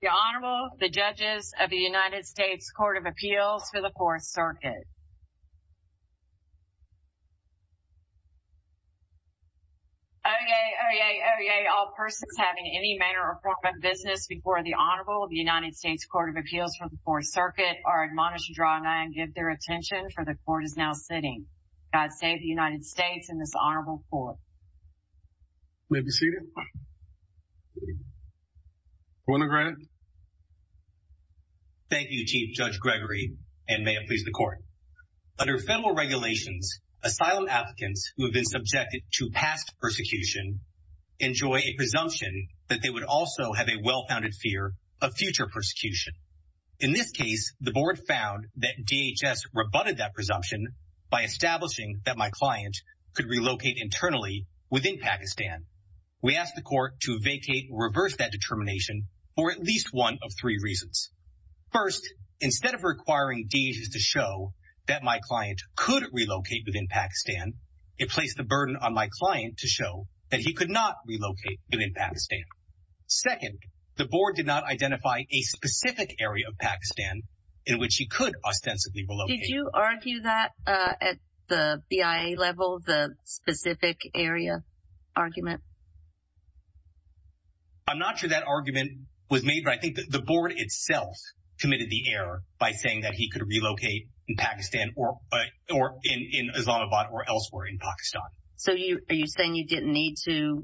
The Honorable, the Judges of the United States Court of Appeals for the 4th Circuit. Oyez, oyez, oyez, all persons having any manner or form of business before the Honorable of the United States Court of Appeals for the 4th Circuit are admonished to draw nigh and give their attention, for the Court is now sitting. God save the United States and this Honorable Court. You may be seated. Your Honor. Thank you, Chief Judge Gregory, and may it please the Court. Under federal regulations, asylum applicants who have been subjected to past persecution enjoy a presumption that they would also have a well-founded fear of future persecution. In this case, the Board found that DHS rebutted that presumption by establishing that my client could relocate internally within Pakistan. We asked the Court to vacate or reverse that determination for at least one of three reasons. First, instead of requiring DHS to show that my client could relocate within Pakistan, it placed the burden on my client to show that he could not relocate within Pakistan. Second, the Board did not identify a specific area of Pakistan in which he could ostensibly relocate. Did you argue that at the BIA level, the specific area argument? I'm not sure that argument was made, but I think the Board itself committed the error by saying that he could relocate in Pakistan or in Islamabad or elsewhere in Pakistan. So are you saying you didn't need to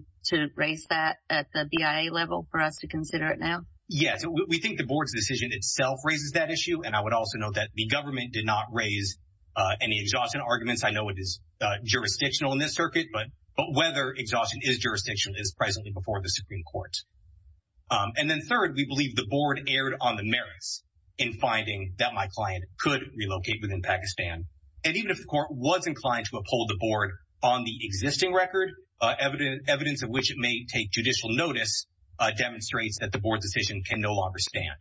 raise that at the BIA level for us to consider it now? Yes, we think the Board's decision itself raises that issue, and I would also note that the government did not raise any exhaustion arguments. I know it is jurisdictional in this circuit, but whether exhaustion is jurisdictional is presently before the Supreme Court. And then third, we believe the Board erred on the merits in finding that my client could relocate within Pakistan. And even if the Court was inclined to uphold the Board on the existing record, evidence of which it may take judicial notice demonstrates that the Board's decision can no longer stand.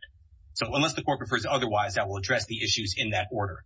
So unless the Court prefers otherwise, that will address the issues in that order.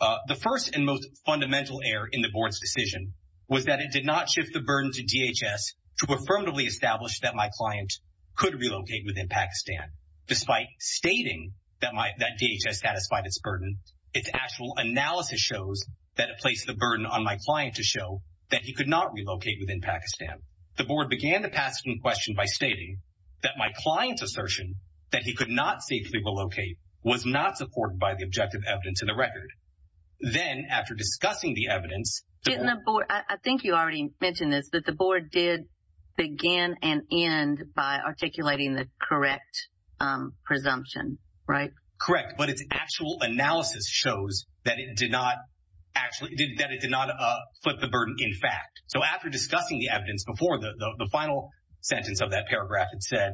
The first and most fundamental error in the Board's decision was that it did not shift the burden to DHS to affirmatively establish that my client could relocate within Pakistan. Despite stating that DHS satisfied its burden, its actual analysis shows that it placed the burden on my client to show that he could not relocate within Pakistan. The Board began to pass it in question by stating that my client's assertion that he could not safely relocate was not supported by the objective evidence in the record. Then after discussing the evidence... Didn't the Board, I think you already mentioned this, that the Board did begin and end by articulating the correct presumption, right? Correct, but its actual analysis shows that it did not actually, that it did not flip the burden in fact. So after discussing the evidence before, the final sentence of that paragraph, it said,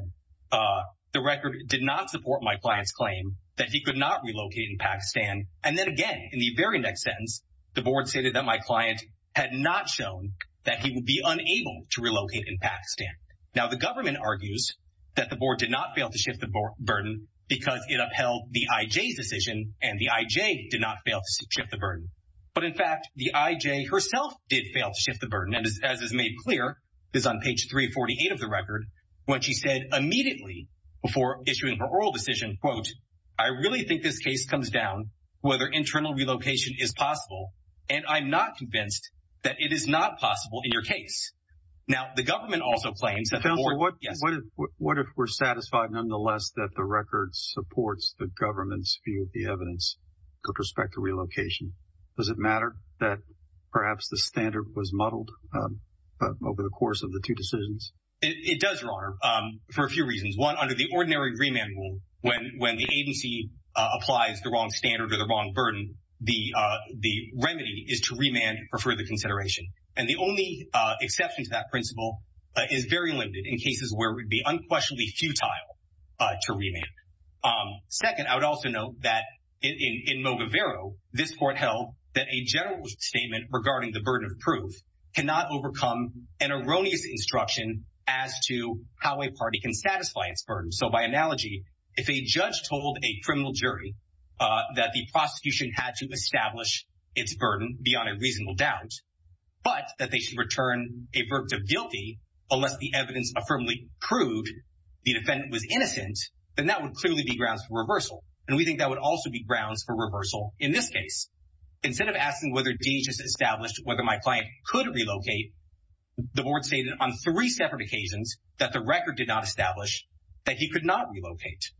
the record did not support my client's claim that he could not relocate in Pakistan. And then again, in the very next sentence, the Board stated that my client had not shown that he would be unable to relocate in Pakistan. Now the government argues that the Board did not fail to shift the burden because it upheld the IJ's decision and the IJ did not fail to shift the burden. But in fact, the IJ herself did fail to shift the burden and as is made clear, it's on page 348 of the record, when she said immediately before issuing her oral decision, quote, I really think this case comes down to whether internal relocation is possible and I'm not convinced that it is not possible in your case. Now the government also claims that the Board... What if we're satisfied nonetheless that the record supports the government's view of the evidence with respect to relocation? Does it matter that perhaps the standard was muddled over the course of the two decisions? It does, Your Honor, for a few reasons. One, under the ordinary remand rule, when the agency applies the wrong standard or the wrong burden, the remedy is to remand for further consideration. And the only exception to that principle is very limited in cases where it would be unquestionably futile to remand. Second, I would also note that in Moguevero, this court held that a general statement regarding the burden of proof cannot overcome an erroneous instruction as to how a party can satisfy its burden. So by analogy, if a judge told a criminal jury that the prosecution had to establish its burden beyond a reasonable doubt, but that they should return a verdict of guilty unless the evidence firmly proved the defendant was innocent, then that would clearly be grounds for reversal. And we think that would also be grounds for reversal in this case. Instead of asking whether DHS established whether my client could relocate, the Board stated on three separate occasions that the record did not establish that he could not relocate.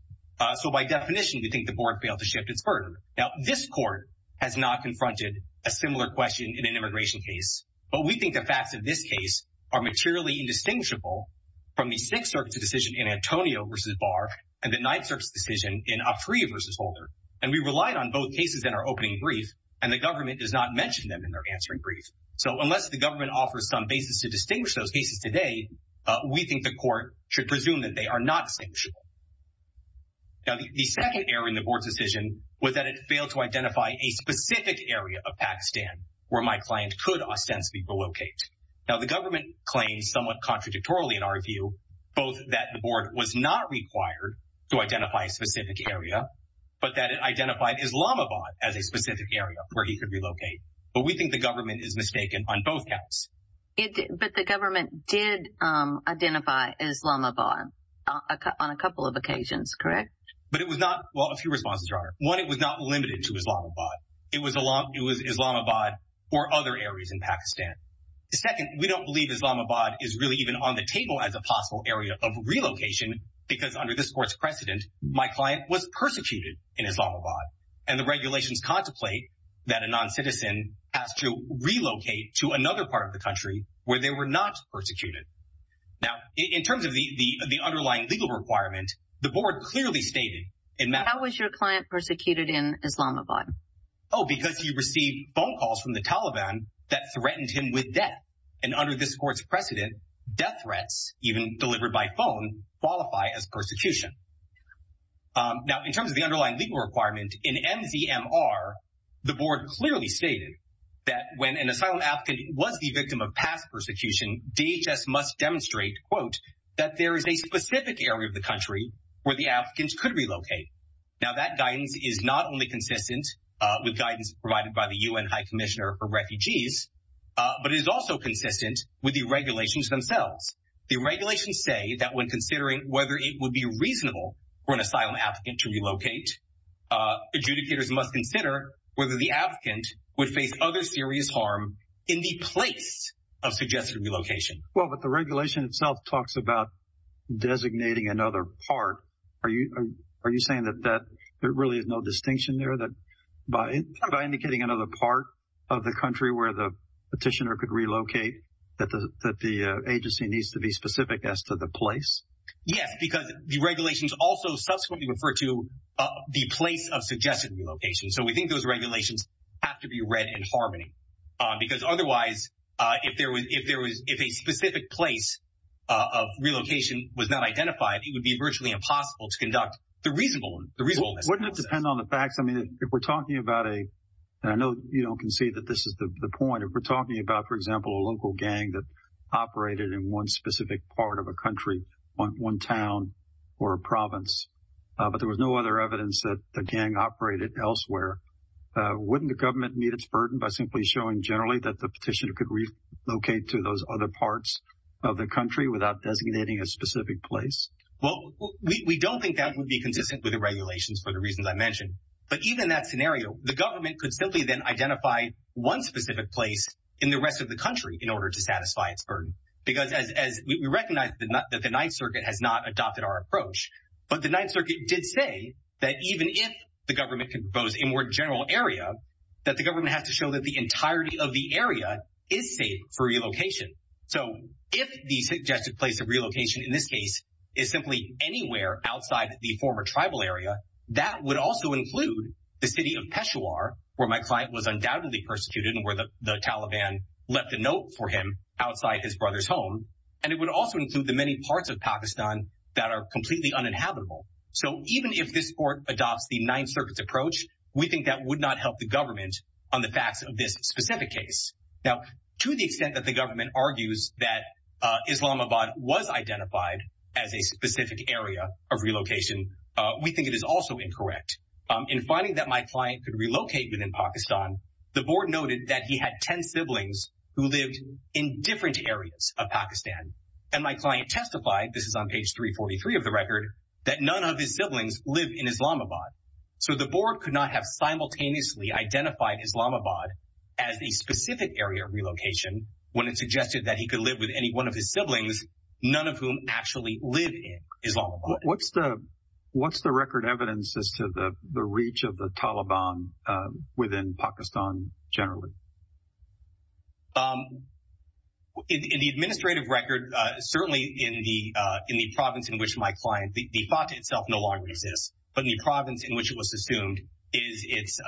So by definition, we think the Board failed to shift its burden. Now this court has not confronted a similar question in an immigration case, but we think the facts of this case are materially indistinguishable from the Sixth Circuit's decision in Antonio v. Barr and the Ninth Circuit's decision in Afriy v. Holder. And we relied on both cases in our opening brief, and the government does not mention them in their answering brief. So unless the government offers some basis to distinguish those cases today, we think the court should presume that they are not distinguishable. Now the second error in the Board's decision was that it failed to identify a specific area of Pakistan where my client could ostensibly relocate. Now the government claims somewhat contradictorily in our view, both that the Board was not required to identify a specific area, but that it identified Islamabad as a specific area where he could relocate. But we think the government is mistaken on both counts. But the government did identify Islamabad on a couple of occasions, correct? But it was not – well, a few responses, Your Honor. One, it was not limited to Islamabad. It was Islamabad or other areas in Pakistan. Second, we don't believe Islamabad is really even on the table as a possible area of relocation because under this Court's precedent, my client was persecuted in Islamabad. And the regulations contemplate that a noncitizen has to relocate to another part of the country where they were not persecuted. Now in terms of the underlying legal requirement, the Board clearly stated in – How was your client persecuted in Islamabad? Oh, because he received phone calls from the Taliban that threatened him with death. And under this Court's precedent, death threats, even delivered by phone, qualify as persecution. Now in terms of the underlying legal requirement, in MZMR, the Board clearly stated that when an asylum applicant was the victim of past persecution, DHS must demonstrate, quote, that there is a specific area of the country where the applicant could relocate. Now that guidance is not only consistent with guidance provided by the UN High Commissioner for Refugees, but it is also consistent with the regulations themselves. The regulations say that when considering whether it would be reasonable for an asylum applicant to relocate, adjudicators must consider whether the applicant would face other serious harm in the place of suggested relocation. Well, but the regulation itself talks about designating another part. Are you saying that there really is no distinction there, that by indicating another part of the country where the petitioner could relocate, that the agency needs to be specific as to the place? Yes, because the regulations also subsequently refer to the place of suggested relocation. Because otherwise, if a specific place of relocation was not identified, it would be virtually impossible to conduct the reasonableness process. Wouldn't it depend on the facts? I mean, if we're talking about a, and I know you don't concede that this is the point, if we're talking about, for example, a local gang that operated in one specific part of a country, one town or a province, but there was no other evidence that the gang operated elsewhere, wouldn't the government meet its burden by simply showing generally that the petitioner could relocate to those other parts of the country without designating a specific place? Well, we don't think that would be consistent with the regulations for the reasons I mentioned. But even in that scenario, the government could simply then identify one specific place in the rest of the country in order to satisfy its burden. Because as we recognize that the Ninth Circuit has not adopted our approach, but the Ninth Circuit did say that even if the government can propose a more general area, that the government has to show that the entirety of the area is safe for relocation. So if the suggested place of relocation in this case is simply anywhere outside the former tribal area, that would also include the city of Peshawar, where my client was undoubtedly persecuted and where the Taliban left a note for him outside his brother's home. And it would also include the many parts of Pakistan that are completely uninhabitable. So even if this court adopts the Ninth Circuit's approach, we think that would not help the government on the facts of this specific case. Now, to the extent that the government argues that Islamabad was identified as a specific area of relocation, we think it is also incorrect. In finding that my client could relocate within Pakistan, the board noted that he had 10 siblings who lived in different areas of Pakistan. And my client testified, this is on page 343 of the record, that none of his siblings live in Islamabad. So the board could not have simultaneously identified Islamabad as a specific area of relocation when it suggested that he could live with any one of his siblings, none of whom actually live in Islamabad. What's the record evidence as to the reach of the Taliban within Pakistan generally? In the administrative record, certainly in the province in which my client, the fatah itself no longer exists, but in the province in which it was assumed is its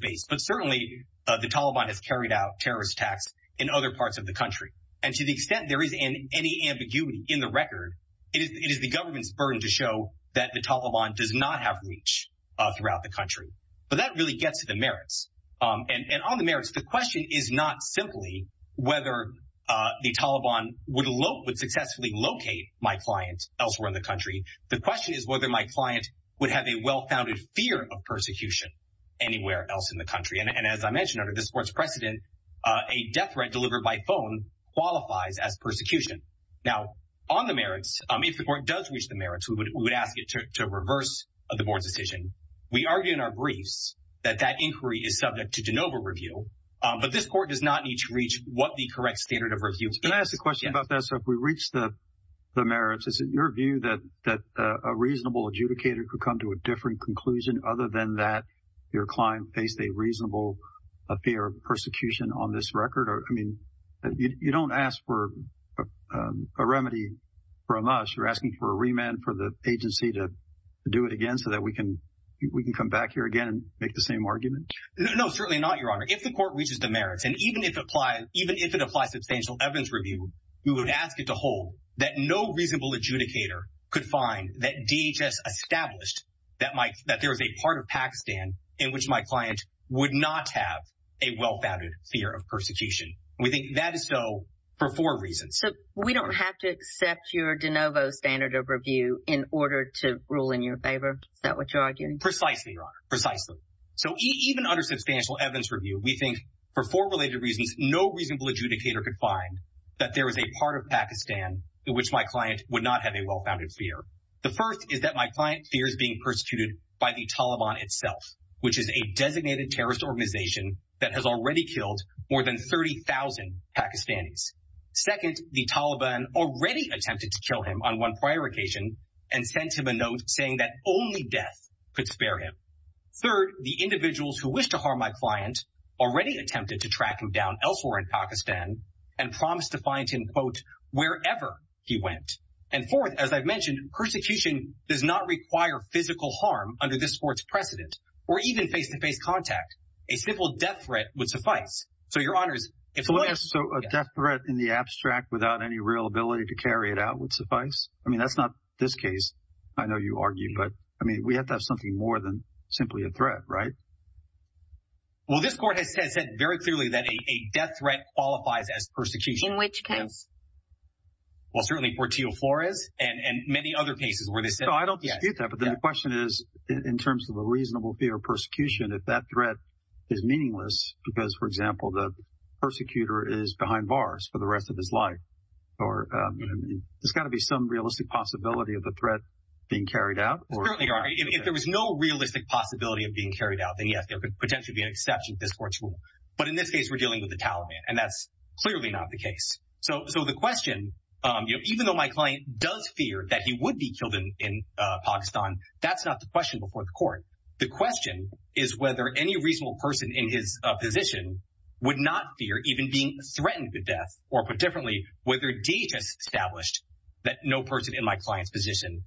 base. But certainly the Taliban has carried out terrorist attacks in other parts of the country. And to the extent there is any ambiguity in the record, it is the government's burden to show that the Taliban does not have reach throughout the country. But that really gets to the merits. And on the merits, the question is not simply whether the Taliban would successfully locate my client elsewhere in the country. The question is whether my client would have a well-founded fear of persecution anywhere else in the country. And as I mentioned, under this court's precedent, a death threat delivered by phone qualifies as persecution. Now, on the merits, if the court does reach the merits, we would ask it to reverse the board's decision. We argue in our briefs that that inquiry is subject to de novo review. But this court does not need to reach what the correct standard of review is. Can I ask a question about that? So if we reach the merits, is it your view that a reasonable adjudicator could come to a different conclusion other than that your client faced a reasonable fear of persecution on this record? I mean, you don't ask for a remedy from us. You're asking for a remand for the agency to do it again so that we can come back here again and make the same argument. No, certainly not, Your Honor. If the court reaches the merits, and even if it applies substantial evidence review, we would ask it to hold that no reasonable adjudicator could find that DHS established that there was a part of Pakistan in which my client would not have a well-founded fear of persecution. We think that is so for four reasons. So we don't have to accept your de novo standard of review in order to rule in your favor? Is that what you're arguing? Precisely, Your Honor, precisely. So even under substantial evidence review, we think for four related reasons, no reasonable adjudicator could find that there was a part of Pakistan in which my client would not have a well-founded fear. The first is that my client fears being persecuted by the Taliban itself, which is a designated terrorist organization that has already killed more than 30,000 Pakistanis. Second, the Taliban already attempted to kill him on one prior occasion and sent him a note saying that only death could spare him. Third, the individuals who wish to harm my client already attempted to track him down elsewhere in Pakistan and promised to find him, quote, wherever he went. And fourth, as I've mentioned, persecution does not require physical harm under this court's precedent, or even face-to-face contact. A simple death threat would suffice. So, Your Honors, if the lawyer— So a death threat in the abstract without any real ability to carry it out would suffice? I mean, that's not this case. I know you argue, but, I mean, we have to have something more than simply a threat, right? Well, this court has said very clearly that a death threat qualifies as persecution. In which case? Well, certainly Portillo Flores and many other cases where they said— No, I don't dispute that, but the question is, in terms of a reasonable fear of persecution, if that threat is meaningless because, for example, the persecutor is behind bars for the rest of his life, there's got to be some realistic possibility of the threat being carried out. Certainly, Your Honor, if there was no realistic possibility of being carried out, then yes, there could potentially be an exception to this court's rule. But in this case, we're dealing with the Taliban, and that's clearly not the case. So the question—even though my client does fear that he would be killed in Pakistan, that's not the question before the court. The question is whether any reasonable person in his position would not fear even being threatened with death. Or, put differently, whether DHS established that no person in my client's position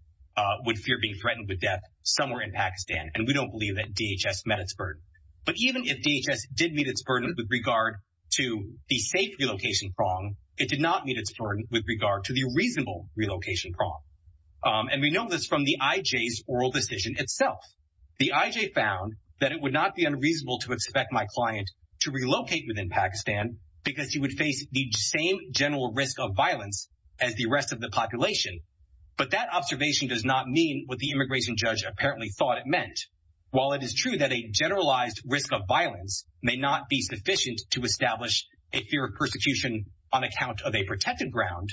would fear being threatened with death somewhere in Pakistan. And we don't believe that DHS met its burden. But even if DHS did meet its burden with regard to the safe relocation prong, it did not meet its burden with regard to the reasonable relocation prong. And we know this from the IJ's oral decision itself. The IJ found that it would not be unreasonable to expect my client to relocate within Pakistan because he would face the same general risk of violence as the rest of the population. But that observation does not mean what the immigration judge apparently thought it meant. While it is true that a generalized risk of violence may not be sufficient to establish a fear of persecution on account of a protected ground,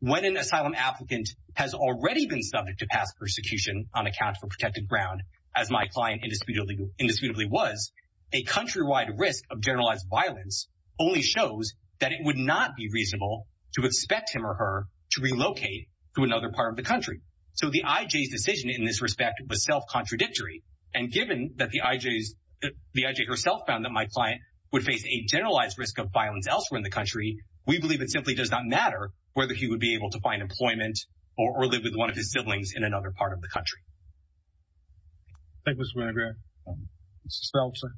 when an asylum applicant has already been subject to past persecution on account of a protected ground, as my client indisputably was, a countrywide risk of generalized violence only shows that it would not be reasonable to expect him or her to relocate to another part of the country. So the IJ's decision in this respect was self-contradictory. And given that the IJ herself found that my client would face a generalized risk of violence elsewhere in the country, we believe it simply does not matter whether he would be able to find employment or live with one of his siblings in another part of the country. Thank you, Mr. Winograd. Mr. Stalzer.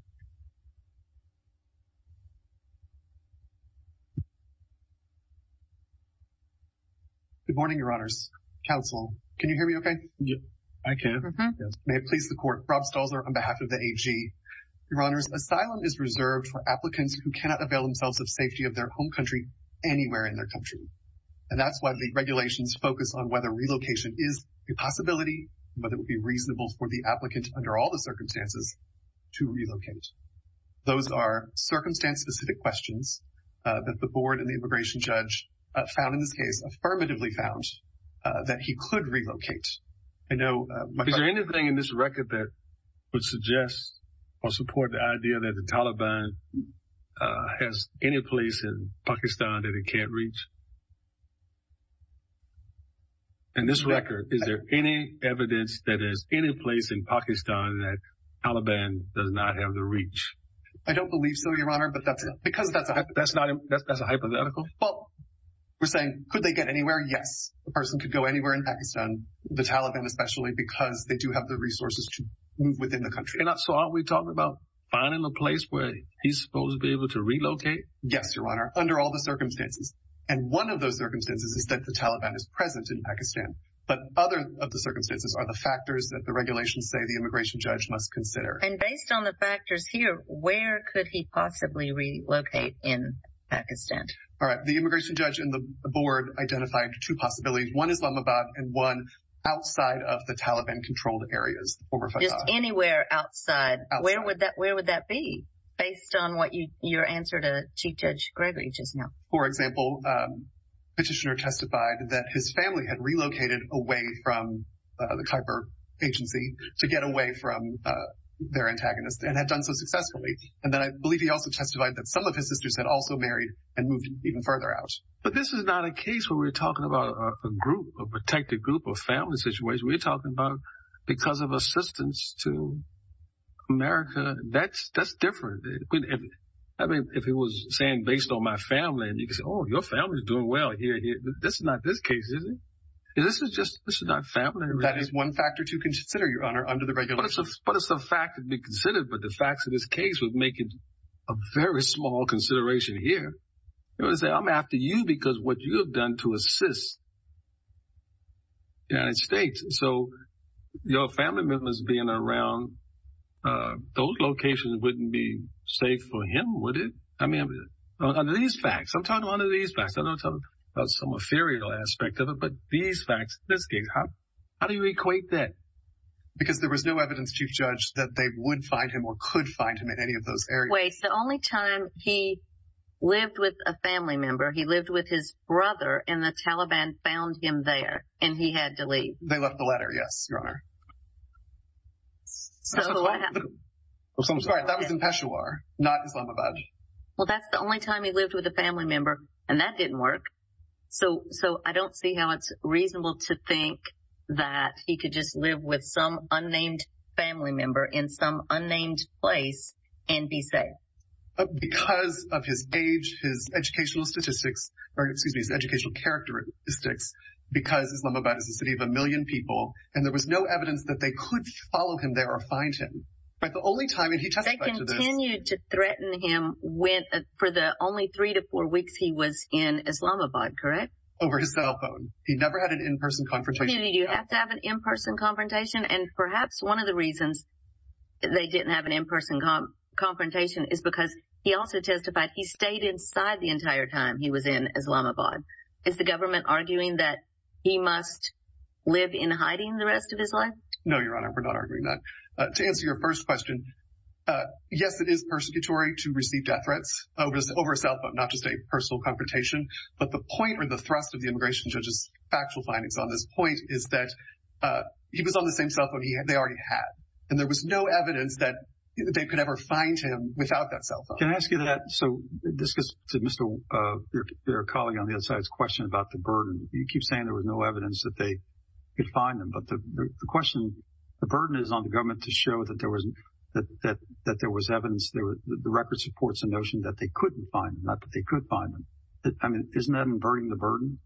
Good morning, Your Honors. Counsel, can you hear me okay? Yes, I can. May it please the Court, Rob Stalzer on behalf of the AG. Your Honors, asylum is reserved for applicants who cannot avail themselves of safety of their home country anywhere in their country. And that's why the regulations focus on whether relocation is a possibility, whether it would be reasonable for the applicant, under all the circumstances, to relocate. Those are circumstance-specific questions that the board and the immigration judge found in this case, affirmatively found, that he could relocate. Is there anything in this record that would suggest or support the idea that the Taliban has any place in Pakistan that it can't reach? In this record, is there any evidence that there's any place in Pakistan that the Taliban does not have the reach? I don't believe so, Your Honor, but that's a hypothetical. Well, we're saying, could they get anywhere? Yes. A person could go anywhere in Pakistan, the Taliban especially, because they do have the resources to move within the country. So aren't we talking about finding a place where he's supposed to be able to relocate? Yes, Your Honor, under all the circumstances. And one of those circumstances is that the Taliban is present in Pakistan. But other of the circumstances are the factors that the regulations say the immigration judge must consider. And based on the factors here, where could he possibly relocate in Pakistan? All right. The immigration judge and the board identified two possibilities. One Islamabad and one outside of the Taliban-controlled areas. Just anywhere outside. Where would that be, based on what your answer to Chief Judge Gregory just now? For example, Petitioner testified that his family had relocated away from the Khyber agency to get away from their antagonist and had done so successfully. And then I believe he also testified that some of his sisters had also married and moved even further out. But this is not a case where we're talking about a group, a protected group or family situation. We're talking about because of assistance to America. That's different. I mean, if it was saying based on my family and you could say, oh, your family is doing well here. This is not this case, is it? This is just this is not family. That is one factor to consider, Your Honor, under the regulations. But it's a fact to be considered. But the facts of this case would make it a very small consideration here. It was that I'm after you because what you have done to assist the United States. So your family members being around those locations wouldn't be safe for him, would it? I mean, under these facts, I'm talking one of these facts. I don't talk about some offering aspect of it, but these facts, this case, how do you equate that? Because there was no evidence, Chief Judge, that they would find him or could find him in any of those areas. The only time he lived with a family member, he lived with his brother and the Taliban found him there and he had to leave. They left the letter. Yes, Your Honor. So that was in Peshawar, not Islamabad. Well, that's the only time he lived with a family member and that didn't work. So so I don't see how it's reasonable to think that he could just live with some unnamed family member in some unnamed place and be safe. Because of his age, his educational statistics or excuse me, his educational characteristics, because Islamabad is a city of a million people and there was no evidence that they could follow him there or find him. But the only time he testified to this. They continued to threaten him for the only three to four weeks he was in Islamabad, correct? Over his cell phone. He never had an in-person confrontation. Do you have to have an in-person confrontation? And perhaps one of the reasons they didn't have an in-person confrontation is because he also testified he stayed inside the entire time he was in Islamabad. Is the government arguing that he must live in hiding the rest of his life? No, Your Honor, we're not arguing that. To answer your first question, yes, it is persecutory to receive death threats over cell phone, not just a personal confrontation. But the point or the thrust of the immigration judge's factual findings on this point is that he was on the same cell phone they already had. And there was no evidence that they could ever find him without that cell phone. Can I ask you that? So this is to Mr. Barakali on the other side's question about the burden. You keep saying there was no evidence that they could find him. But the question, the burden is on the government to show that there was evidence. The record supports the notion that they couldn't find him, not that they could find him. I mean, isn't that inverting the burden?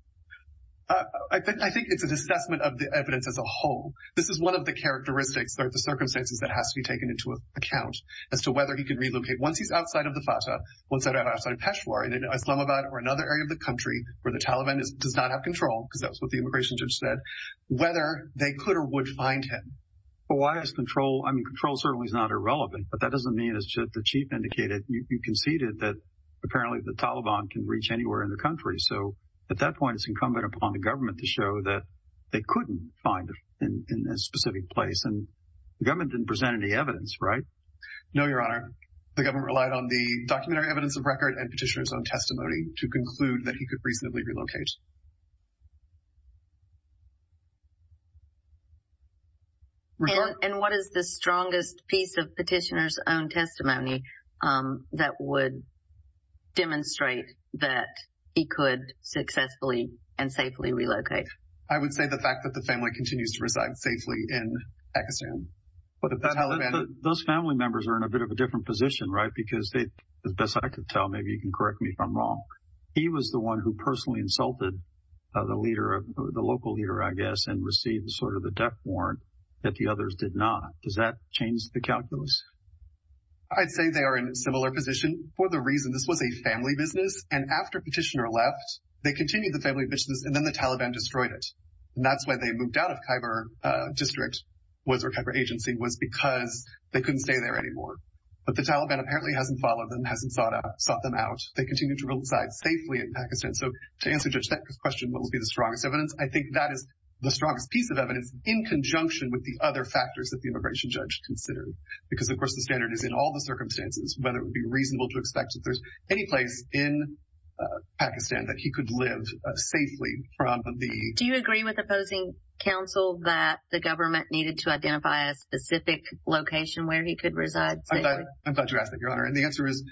I think it's an assessment of the evidence as a whole. This is one of the characteristics or the circumstances that has to be taken into account as to whether he can relocate. Once he's outside of the Fatah, once he's outside of Peshawar, either in Islamabad or another area of the country where the Taliban does not have control, because that's what the immigration judge said, whether they could or would find him. Why is control? I mean, control certainly is not irrelevant. But that doesn't mean, as the chief indicated, you conceded that apparently the Taliban can reach anywhere in the country. So at that point, it's incumbent upon the government to show that they couldn't find him in a specific place. And the government didn't present any evidence, right? No, Your Honor. The government relied on the documentary evidence of record and petitioner's own testimony to conclude that he could reasonably relocate. And what is the strongest piece of petitioner's own testimony that would demonstrate that he could successfully and safely relocate? I would say the fact that the family continues to reside safely in Pakistan. Those family members are in a bit of a different position, right? Because as best I could tell, maybe you can correct me if I'm wrong. He was the one who personally insulted the leader, the local leader, I guess, and received sort of the death warrant that the others did not. Does that change the calculus? I'd say they are in a similar position for the reason this was a family business. And after Petitioner left, they continued the family business and then the Taliban destroyed it. And that's why they moved out of Khyber District, or Khyber Agency, was because they couldn't stay there anymore. But the Taliban apparently hasn't followed them, hasn't sought them out. They continue to reside safely in Pakistan. So to answer Judge Thackeray's question, what would be the strongest evidence? I think that is the strongest piece of evidence in conjunction with the other factors that the immigration judge considered. Because, of course, the standard is in all the circumstances whether it would be reasonable to expect if there's any place in Pakistan that he could live safely from the— Do you agree with opposing counsel that the government needed to identify a specific location where he could reside safely? I'm glad you asked that, Your Honor. And the answer is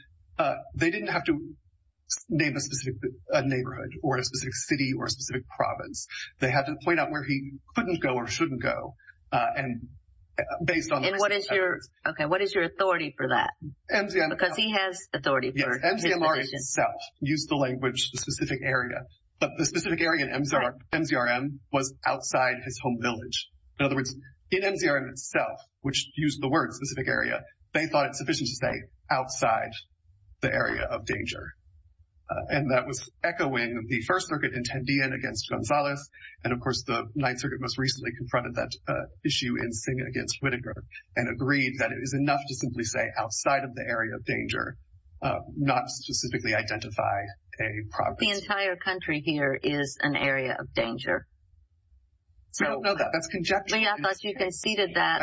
they didn't have to name a specific neighborhood or a specific city or a specific province. They had to point out where he couldn't go or shouldn't go. And based on— And what is your authority for that? Because he has authority for his position. MZMR itself used the language specific area. But the specific area in MZRM was outside his home village. In other words, in MZRM itself, which used the word specific area, they thought it sufficient to say outside the area of danger. And that was echoing the First Circuit in Tandiyan against Gonzalez. And, of course, the Ninth Circuit most recently confronted that issue in Singh against Whittaker and agreed that it is enough to simply say outside of the area of danger, not specifically identify a province. The entire country here is an area of danger. We don't know that. That's conjecture. I thought you conceded that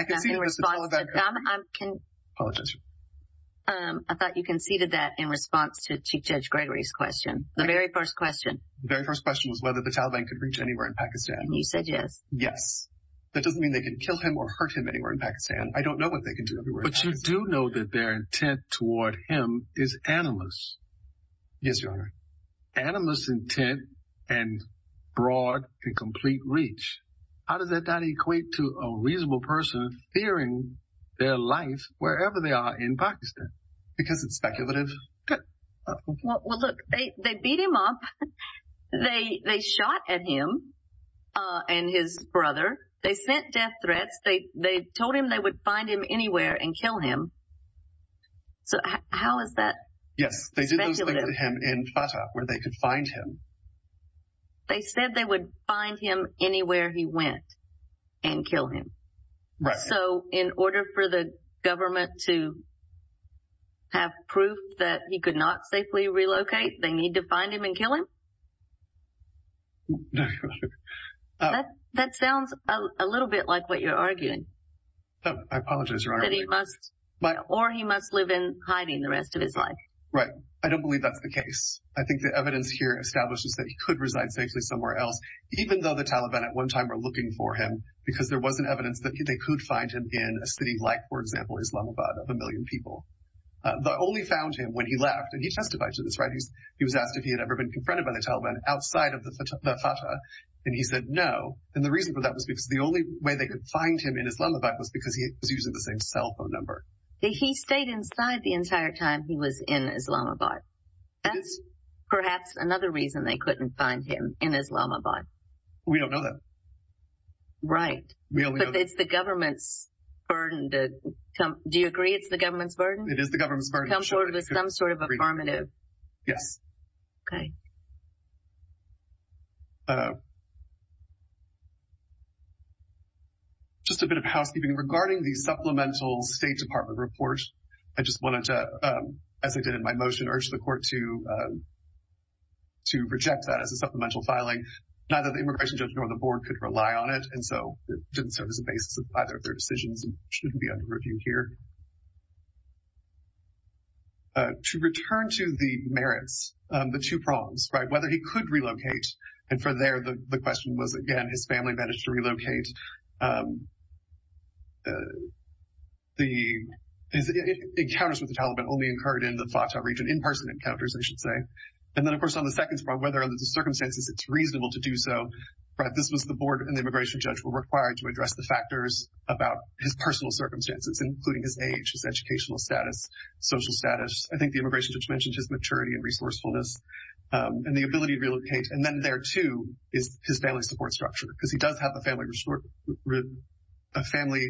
in response to Chief Judge Gregory's question. The very first question. The very first question was whether the Taliban could reach anywhere in Pakistan. You said yes. Yes. That doesn't mean they can kill him or hurt him anywhere in Pakistan. I don't know what they can do anywhere in Pakistan. Yes, Your Honor. Anonymous intent and broad and complete reach. How does that not equate to a reasonable person fearing their life wherever they are in Pakistan? Because it's speculative. Well, look, they beat him up. They shot at him and his brother. They sent death threats. They told him they would find him anywhere and kill him. So how is that speculative? Yes, they did those things to him in Fatah where they could find him. They said they would find him anywhere he went and kill him. So in order for the government to have proof that he could not safely relocate, they need to find him and kill him? That sounds a little bit like what you're arguing. I apologize, Your Honor. Or he must live in hiding the rest of his life. Right. I don't believe that's the case. I think the evidence here establishes that he could reside safely somewhere else, even though the Taliban at one time were looking for him because there wasn't evidence that they could find him in a city like, for example, Islamabad of a million people. They only found him when he left. And he testified to this, right? He was asked if he had ever been confronted by the Taliban outside of Fatah. And he said no. And the reason for that was because the only way they could find him in Islamabad was because he was using the same cell phone number. He stayed inside the entire time he was in Islamabad. That's perhaps another reason they couldn't find him in Islamabad. We don't know that. Right. But it's the government's burden. Do you agree it's the government's burden? It is the government's burden. To come forward with some sort of affirmative. Yes. Okay. Just a bit of housekeeping. Regarding the supplemental State Department report, I just wanted to, as I did in my motion, urge the court to reject that as a supplemental filing. Neither the immigration judge nor the board could rely on it. And so it didn't serve as a basis of either of their decisions and shouldn't be under review here. To return to the merits, the two prongs, right, whether he could relocate. And for there, the question was, again, his family managed to relocate. The encounters with the Taliban only occurred in the Fatah region, in-person encounters, I should say. And then, of course, on the second prong, whether under the circumstances it's reasonable to do so. This was the board and the immigration judge were required to address the factors about his personal circumstances, including his age, his educational status, social status. I think the immigration judge mentioned his maturity and resourcefulness and the ability to relocate. And then there, too, is his family support structure, because he does have a family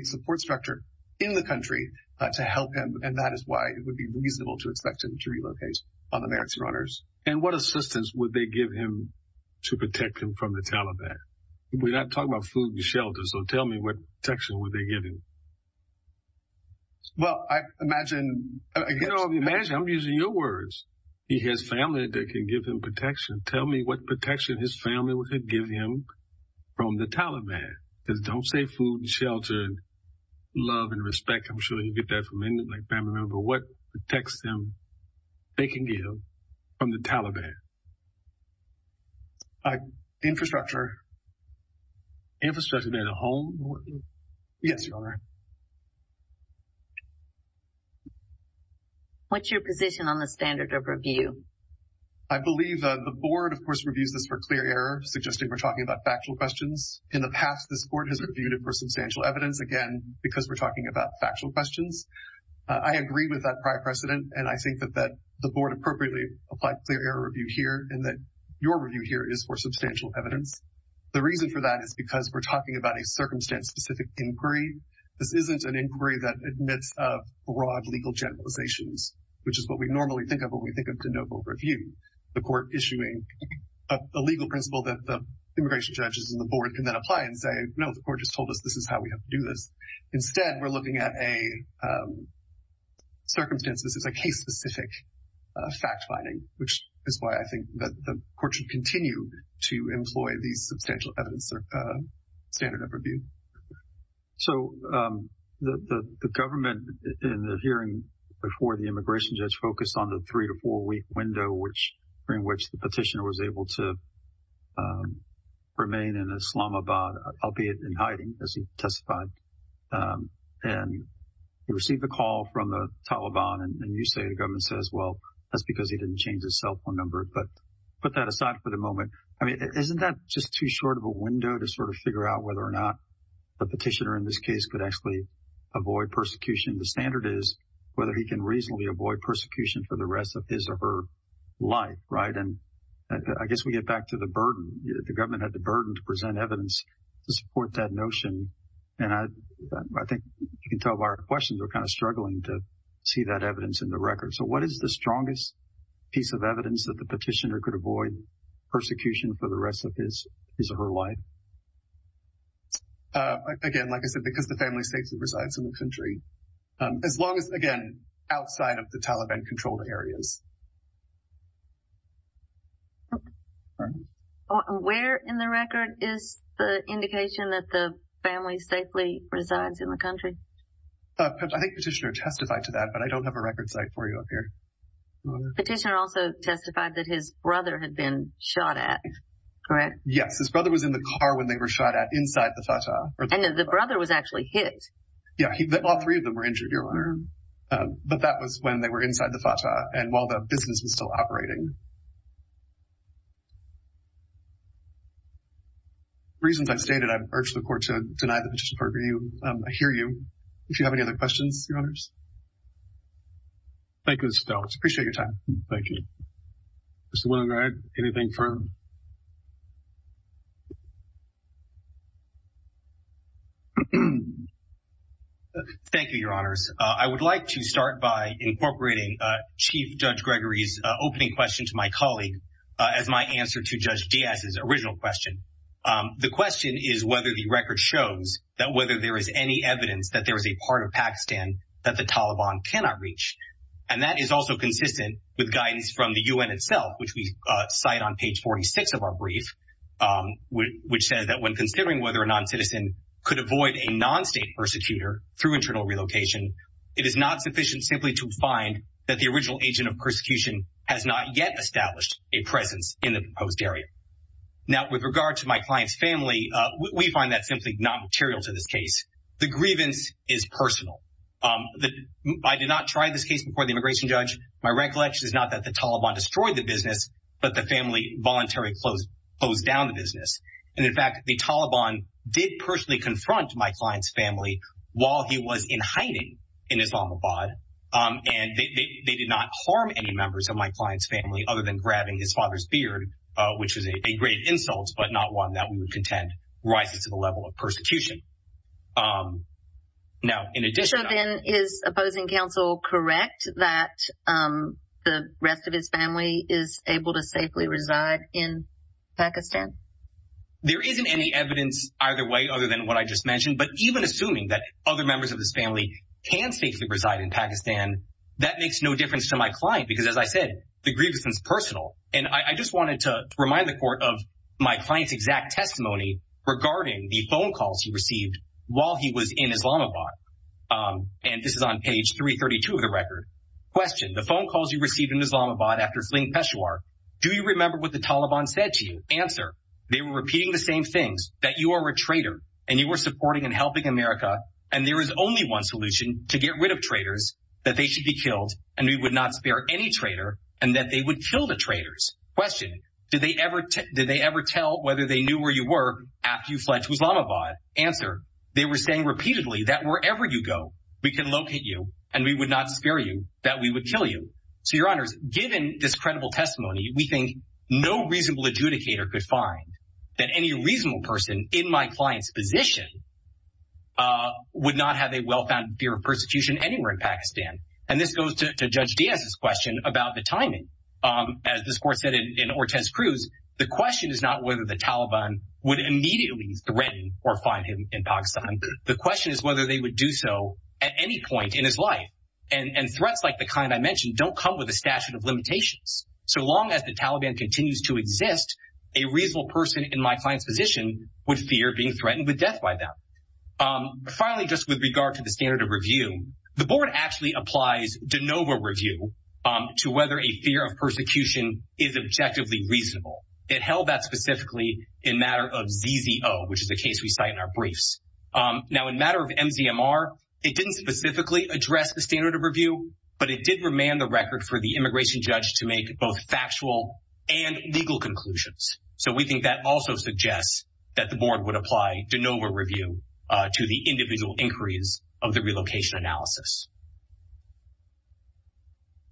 support structure in the country to help him. And that is why it would be reasonable to expect him to relocate on the merits and honors. And what assistance would they give him to protect him from the Taliban? We're not talking about food and shelter. So tell me what protection would they give him? Well, I imagine. Imagine I'm using your words. He has family that can give him protection. Tell me what protection his family would give him from the Taliban. Because don't say food and shelter and love and respect. I'm sure you get that from him. But what protects him, they can give from the Taliban? Infrastructure. Infrastructure and a home? Yes, Your Honor. What's your position on the standard of review? I believe the board, of course, reviews this for clear error, suggesting we're talking about factual questions. In the past, this court has reviewed it for substantial evidence, again, because we're talking about factual questions. I agree with that prior precedent. And I think that the board appropriately applied clear error review here and that your review here is for substantial evidence. The reason for that is because we're talking about a circumstance-specific inquiry. This isn't an inquiry that admits of broad legal generalizations, which is what we normally think of when we think of the noble review. The court issuing a legal principle that the immigration judges and the board can then apply and say, no, the court just told us this is how we have to do this. Instead, we're looking at a circumstance. This is a case-specific fact-finding, which is why I think that the court should continue to employ these substantial evidence standard of review. So the government, in the hearing before the immigration judge, focused on the three- to four-week window, during which the petitioner was able to remain in Islamabad, albeit in hiding, as he testified. And he received a call from the Taliban. And you say the government says, well, that's because he didn't change his cell phone number. But put that aside for the moment. I mean, isn't that just too short of a window to sort of figure out whether or not the petitioner in this case could actually avoid persecution? The standard is whether he can reasonably avoid persecution for the rest of his or her life, right? And I guess we get back to the burden. The government had the burden to present evidence to support that notion. And I think you can tell by our questions, we're kind of struggling to see that evidence in the record. So what is the strongest piece of evidence that the petitioner could avoid persecution for the rest of his or her life? Again, like I said, because the family safely resides in the country, as long as, again, outside of the Taliban-controlled areas. Where in the record is the indication that the family safely resides in the country? I think petitioner testified to that, but I don't have a record site for you up here. Petitioner also testified that his brother had been shot at, correct? Yes, his brother was in the car when they were shot at inside the Fatah. And the brother was actually hit. Yeah, all three of them were injured, Your Honor. But that was when they were inside the Fatah and while the business was still operating. For reasons I've stated, I've urged the court to deny the petition for review. I hear you. If you have any other questions, Your Honors. Thank you, Mr. Stelz. Appreciate your time. Thank you. Mr. Willengrad, anything further? Thank you, Your Honors. I would like to start by incorporating Chief Judge Gregory's opening question to my colleague as my answer to Judge Diaz's original question. The question is whether the record shows that whether there is any evidence that there is a part of Pakistan that the Taliban cannot reach. And that is also consistent with guidance from the U.N. itself, which we cite on page 46 of our brief, which says that when considering whether a non-citizen could avoid a non-state persecutor through internal relocation, it is not sufficient simply to find that the original agent of persecution has not yet established a presence in the proposed area. Now, with regard to my client's family, we find that simply not material to this case. The grievance is personal. I did not try this case before the immigration judge. My recollection is not that the Taliban destroyed the business, but the family voluntarily closed down the business. And, in fact, the Taliban did personally confront my client's family while he was in hiding in Islamabad. And they did not harm any members of my client's family other than grabbing his father's beard, which is a great insult, but not one that we would contend rises to the level of persecution. Now, in addition— So, then, is opposing counsel correct that the rest of his family is able to safely reside in Pakistan? There isn't any evidence either way other than what I just mentioned. But even assuming that other members of his family can safely reside in Pakistan, that makes no difference to my client. Because, as I said, the grievance is personal. And I just wanted to remind the court of my client's exact testimony regarding the phone calls he received while he was in Islamabad. And this is on page 332 of the record. Question. The phone calls you received in Islamabad after fleeing Peshawar, do you remember what the Taliban said to you? Answer. They were repeating the same things, that you are a traitor, and you were supporting and helping America, and there is only one solution to get rid of traitors, that they should be killed, and we would not spare any traitor, and that they would kill the traitors. Question. Did they ever tell whether they knew where you were after you fled to Islamabad? Answer. They were saying repeatedly that wherever you go, we can locate you, and we would not spare you, that we would kill you. So, Your Honors, given this credible testimony, we think no reasonable adjudicator could find that any reasonable person in my client's position And this goes to Judge Diaz's question about the timing. As this court said in Ortez Cruz, the question is not whether the Taliban would immediately threaten or find him in Pakistan. The question is whether they would do so at any point in his life. And threats like the kind I mentioned don't come with a statute of limitations. So long as the Taliban continues to exist, a reasonable person in my client's position would fear being threatened with death by them. Finally, just with regard to the standard of review, the board actually applies de novo review to whether a fear of persecution is objectively reasonable. It held that specifically in matter of ZZO, which is a case we cite in our briefs. Now, in matter of MZMR, it didn't specifically address the standard of review, but it did remand the record for the immigration judge to make both factual and legal conclusions. So we think that also suggests that the board would apply de novo review to the individual inquiries of the relocation analysis.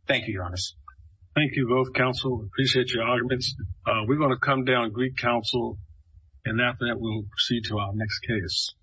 Thank you, Your Honors. Thank you both, counsel. I appreciate your arguments. We're going to come down and greet counsel, and after that, we'll proceed to our next case.